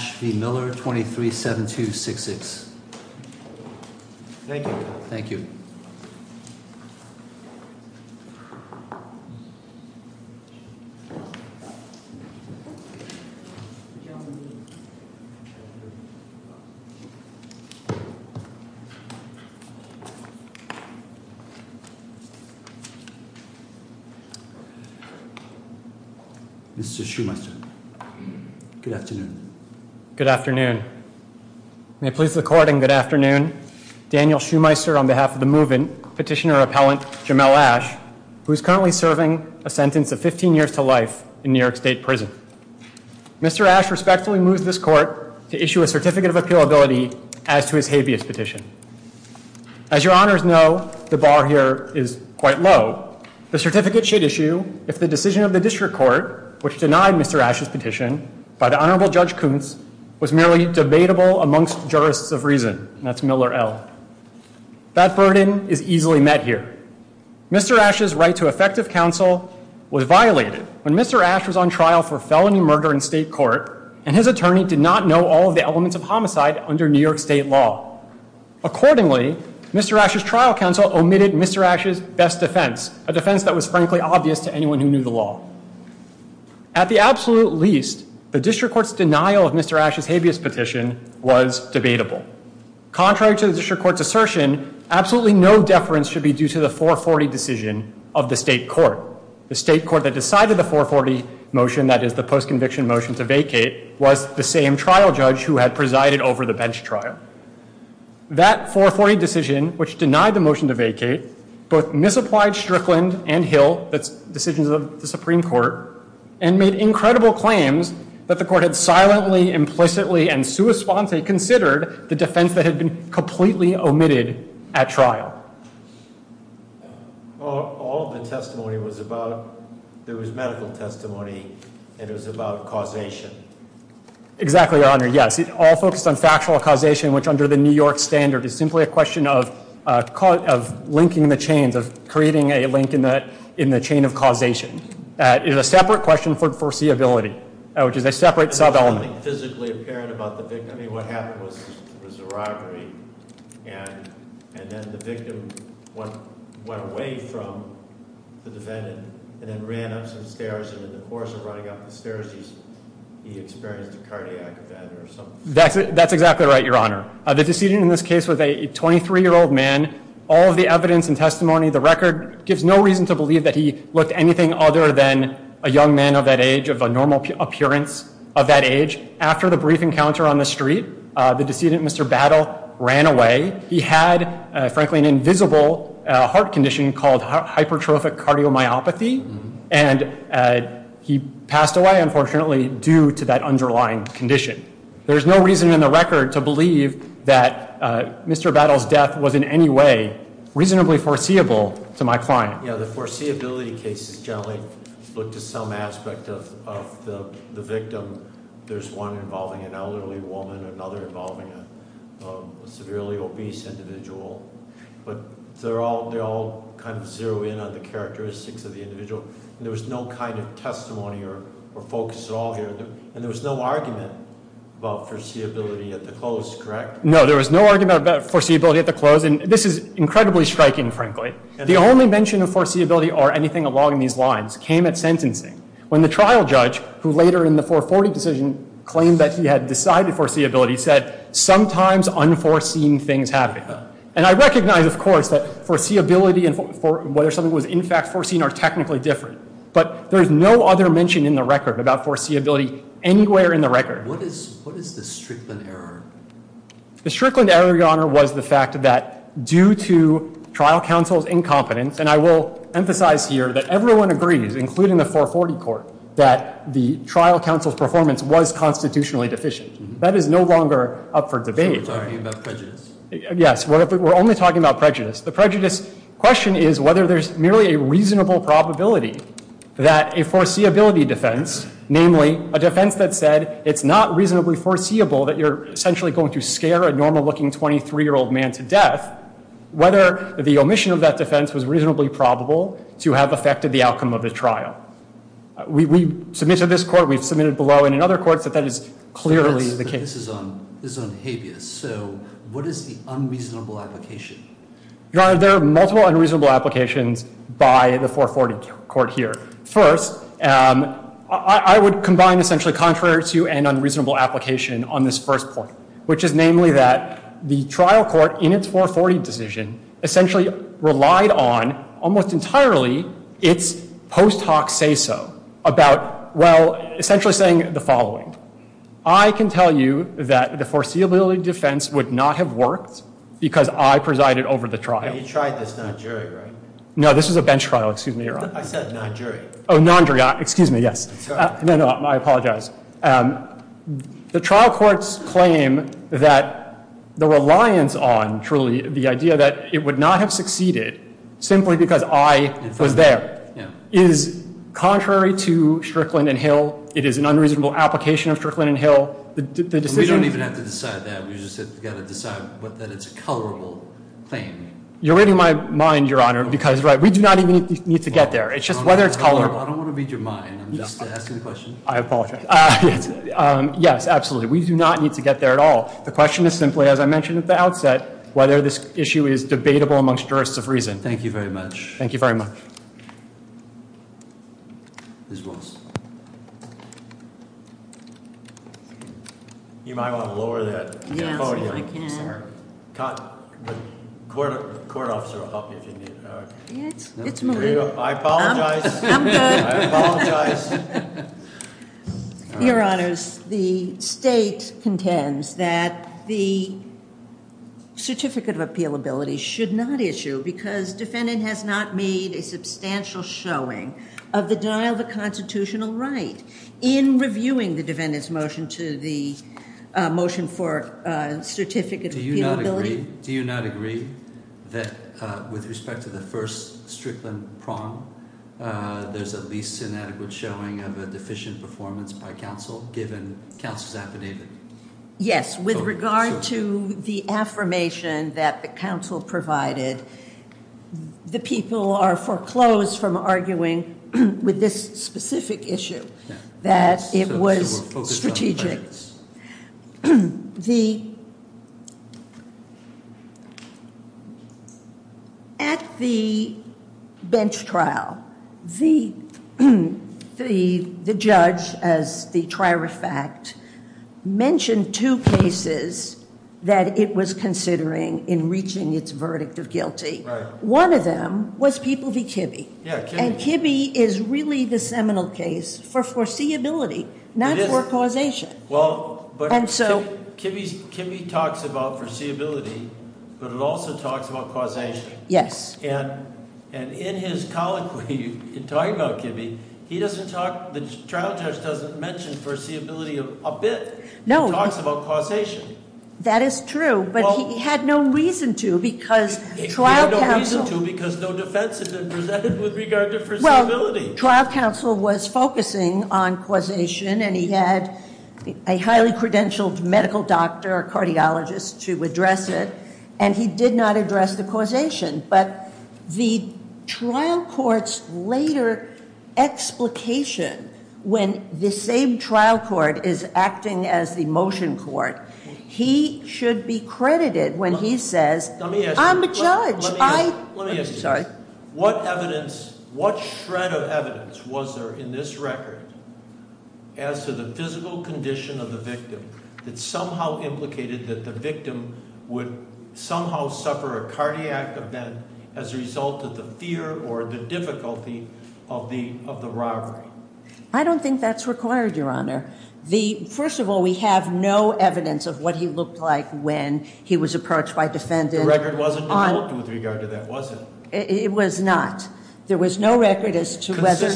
237266 Thank you. Thank you. Thank you. Good afternoon. May it please the court and good afternoon. Daniel Schumyser on behalf of the moving petitioner appellant Jamel Ash, who is currently serving a sentence of 15 years to life in New York State Prison. Mr. Ash respectfully moves this court to issue a certificate of appeal ability as to his habeas petition. As your honors know, the bar here is quite low. The certificate should issue if the decision of the district court, which denied Mr. Ash's petition by the Honorable Judge Koontz was merely debatable amongst jurists of reason. That's Miller L. That burden is easily met here. Mr. Ash's right to effective counsel was violated when Mr. Ash was on trial for felony murder in state court, and his attorney did not know all of the elements of homicide under New York State law. Accordingly, Mr. Ash's trial counsel omitted Mr. Ash's best defense, a defense that was frankly obvious to anyone who knew the law. At the absolute least, the district court's denial of Mr. Ash's habeas petition was debatable. Contrary to the district court's assertion, absolutely no deference should be due to the 440 decision of the state court. The state court that decided the 440 motion, that is the post-conviction motion to vacate, was the same trial judge who had presided over the bench trial. That 440 decision, which denied the motion to vacate, both misapplied Strickland and Hill, that's decisions of the Supreme Court, and made incredible claims that the court had silently, implicitly, and sua sponte considered the defense that had been completely omitted at trial. All of the testimony was about, there was medical testimony, and it was about causation. Exactly, Your Honor, yes. It all focused on factual causation, which under the New York standard is simply a question of linking the chains, of creating a link in the chain of causation. It is a separate question for foreseeability, which is a separate sub-element. There was nothing physically apparent about the victim. I mean, what happened was a robbery, and then the victim went away from the defendant, and then ran up some stairs, and in the course of running up the stairs, he experienced a cardiac event or something. That's exactly right, Your Honor. The decision in this case was a 23-year-old man. All of the evidence and testimony, the record, gives no reason to believe that he looked anything other than a young man of that age, of a normal appearance of that age. After the brief encounter on the street, the decedent, Mr. Battle, ran away. He had, frankly, an invisible heart condition called hypertrophic cardiomyopathy, and he passed away, unfortunately, due to that underlying condition. There is no reason in the record to believe that Mr. Battle's death was in any way reasonably foreseeable to my client. Yeah, the foreseeability cases generally look to some aspect of the victim. There's one involving an elderly woman, another involving a severely obese individual, but they all kind of zero in on the characteristics of the individual. There was no kind of testimony or focus at all here, and there was no argument about foreseeability at the close, correct? No, there was no argument about foreseeability at the close, and this is incredibly striking, frankly. The only mention of foreseeability or anything along these lines came at sentencing, when the trial judge, who later in the 440 decision claimed that he had decided foreseeability, said, sometimes unforeseen things happen. And I recognize, of course, that foreseeability and whether something was in fact foreseen are technically different, but there is no other mention in the record about foreseeability anywhere in the record. What is the Strickland error? The Strickland error, Your Honor, was the fact that due to trial counsel's incompetence, and I will emphasize here that everyone agrees, including the 440 court, that the trial counsel's performance was constitutionally deficient. That is no longer up for debate. Are you talking about prejudice? Yes, we're only talking about prejudice. The prejudice question is whether there's merely a reasonable probability that a foreseeability defense, namely, a defense that said it's not reasonably foreseeable that you're essentially going to scare a normal-looking 23-year-old man to death, whether the omission of that defense was reasonably probable to have affected the outcome of the trial. We submitted this court. We've submitted below and in other courts that that is clearly the case. So this is on habeas. So what is the unreasonable application? Your Honor, there are multiple unreasonable applications by the 440 court here. First, I would combine essentially contrary to an unreasonable application on this first point, which is namely that the trial court in its 440 decision essentially relied on, almost entirely, its post hoc say-so about, well, essentially saying the following. I can tell you that the foreseeability defense would not have worked because I presided over the trial. And you tried this non-jury, right? I said non-jury. Oh, non-jury. Excuse me, yes. No, no, I apologize. The trial court's claim that the reliance on, truly, the idea that it would not have succeeded simply because I was there is contrary to Strickland and Hill. It is an unreasonable application of Strickland and Hill. We don't even have to decide that. We've just got to decide that it's a colorable claim. You're reading my mind, Your Honor, because we do not even need to get there. It's just whether it's colorable. I don't want to read your mind. I'm just asking the question. I apologize. Yes, absolutely. We do not need to get there at all. The question is simply, as I mentioned at the outset, whether this issue is debatable amongst jurists of reason. Thank you very much. Thank you very much. You might want to lower that. Yes, I can. The court officer will help you if you need. It's moving. I apologize. I'm good. I apologize. Your Honors, the state contends that the certificate of appealability should not issue because defendant has not made a substantial showing of the denial of a constitutional right in reviewing the defendant's motion to the motion for certificate of appealability. Do you not agree that with respect to the first Strickland prong, there's a least inadequate showing of a deficient performance by counsel given counsel's affidavit? Yes. With regard to the affirmation that the counsel provided, the people are foreclosed from arguing with this specific issue that it was strategic. At the bench trial, the judge, as the trier of fact, mentioned two cases that it was considering in reaching its verdict of guilty. One of them was People v. Kibbe. And Kibbe is really the seminal case for foreseeability, not for causation. Well, but Kibbe talks about foreseeability, but it also talks about causation. Yes. And in his colloquy, in talking about Kibbe, he doesn't talk, the trial judge doesn't mention foreseeability a bit. No. He talks about causation. That is true, but he had no reason to because trial counsel- He had no reason to because no defense had been presented with regard to foreseeability. Trial counsel was focusing on causation, and he had a highly credentialed medical doctor, a cardiologist, to address it, and he did not address the causation. But the trial court's later explication, when the same trial court is acting as the motion court, he should be credited when he says- Let me ask you- I'm the judge. Let me ask you- I'm sorry. What evidence, what shred of evidence was there in this record as to the physical condition of the victim that somehow implicated that the victim would somehow suffer a cardiac event as a result of the fear or the difficulty of the robbery? I don't think that's required, Your Honor. First of all, we have no evidence of what he looked like when he was approached by defendants- The record wasn't developed with regard to that, was it? It was not. There was no record as to whether-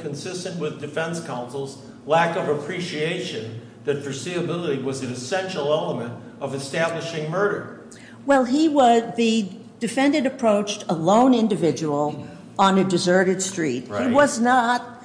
Consistent with defense counsel's lack of appreciation that foreseeability was an essential element of establishing murder. Well, the defendant approached a lone individual on a deserted street. He was not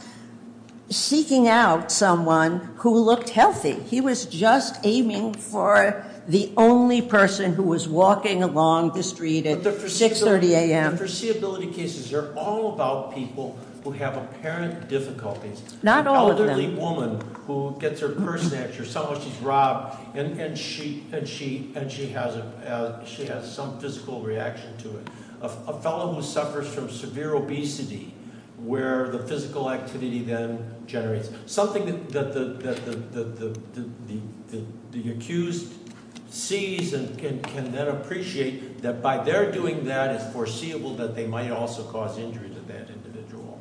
seeking out someone who looked healthy. He was just aiming for the only person who was walking along the street at 6.30 AM. But the foreseeability cases are all about people who have apparent difficulties. Not all of them. An elderly woman who gets her purse snatched or someone she's robbed, and she has some physical reaction to it. A fellow who suffers from severe obesity where the physical activity then generates something that the accused sees and can then appreciate that by their doing that, it's foreseeable that they might also cause injury to that individual.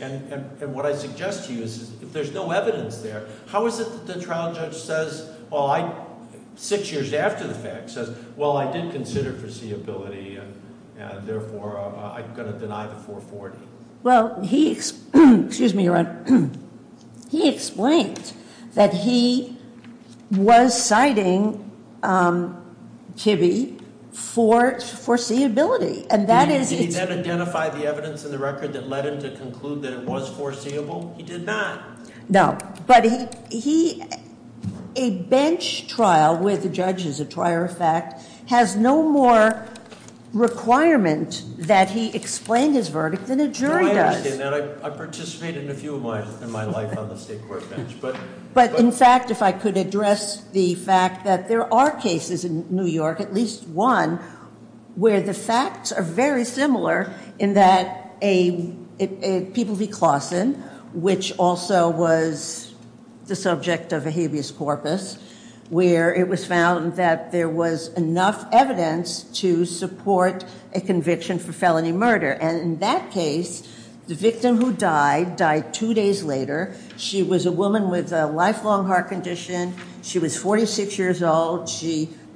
And what I suggest to you is if there's no evidence there, how is it that the trial judge says, well, I- Six years after the fact says, well, I did consider foreseeability, and therefore, I'm going to deny the 440. Well, he- Excuse me, Your Honor. He explained that he was citing Kibbe for foreseeability, and that is- Did he then identify the evidence in the record that led him to conclude that it was foreseeable? He did not. No. But a bench trial where the judge is a trier of fact has no more requirement that he explain his verdict than a jury does. No, I understand that. I participate in a few of mine in my life on the state court bench. But in fact, if I could address the fact that there are cases in New York, at least one, where the facts are very similar in that a- People v. Claussen, which also was the subject of a habeas corpus, where it was found that there was enough evidence to support a conviction for felony murder. And in that case, the victim who died, died two days later. She was a woman with a lifelong heart condition. She was 46 years old.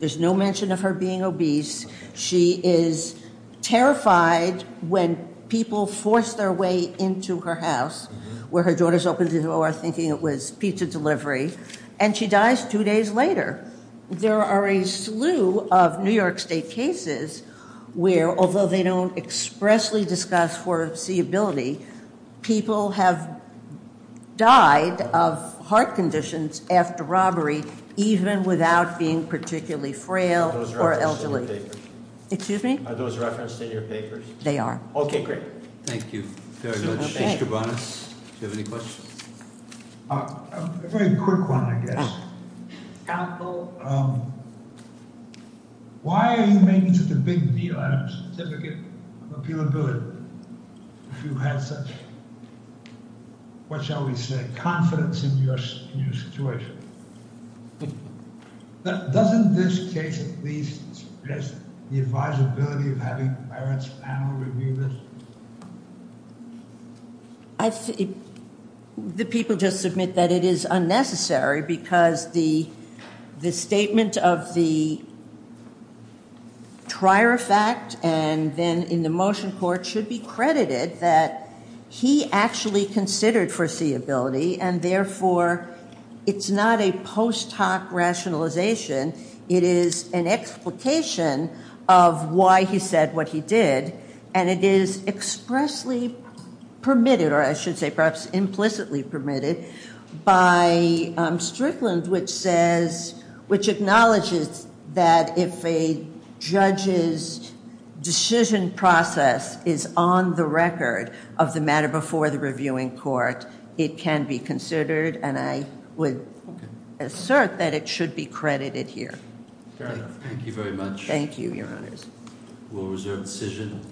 There's no mention of her being obese. She is terrified when people force their way into her house, where her daughters open the door thinking it was pizza delivery. And she dies two days later. There are a slew of New York State cases where, although they don't expressly discuss foreseeability, people have died of heart conditions after robbery even without being particularly frail or elderly. Excuse me? Are those referenced in your papers? They are. Okay, great. Thank you very much. Mr. Bonas, do you have any questions? A very quick one, I guess. Counsel? Why are you making such a big deal out of a certificate of appealability if you have such, what shall we say, confidence in your situation? Doesn't this case at least express the advisability of having parents panel review this? I think the people just submit that it is unnecessary because the statement of the trier effect and then in the motion court should be credited that he actually considered foreseeability and therefore it's not a post hoc rationalization. It is an explication of why he said what he did. And it is expressly permitted, or I should say perhaps implicitly permitted, by Strickland which says, which acknowledges that if a judge's decision process is on the record of the matter before the reviewing court, it can be considered and I would assert that it should be credited here. Thank you very much. Thank you, Your Honors. We'll reserve the decision.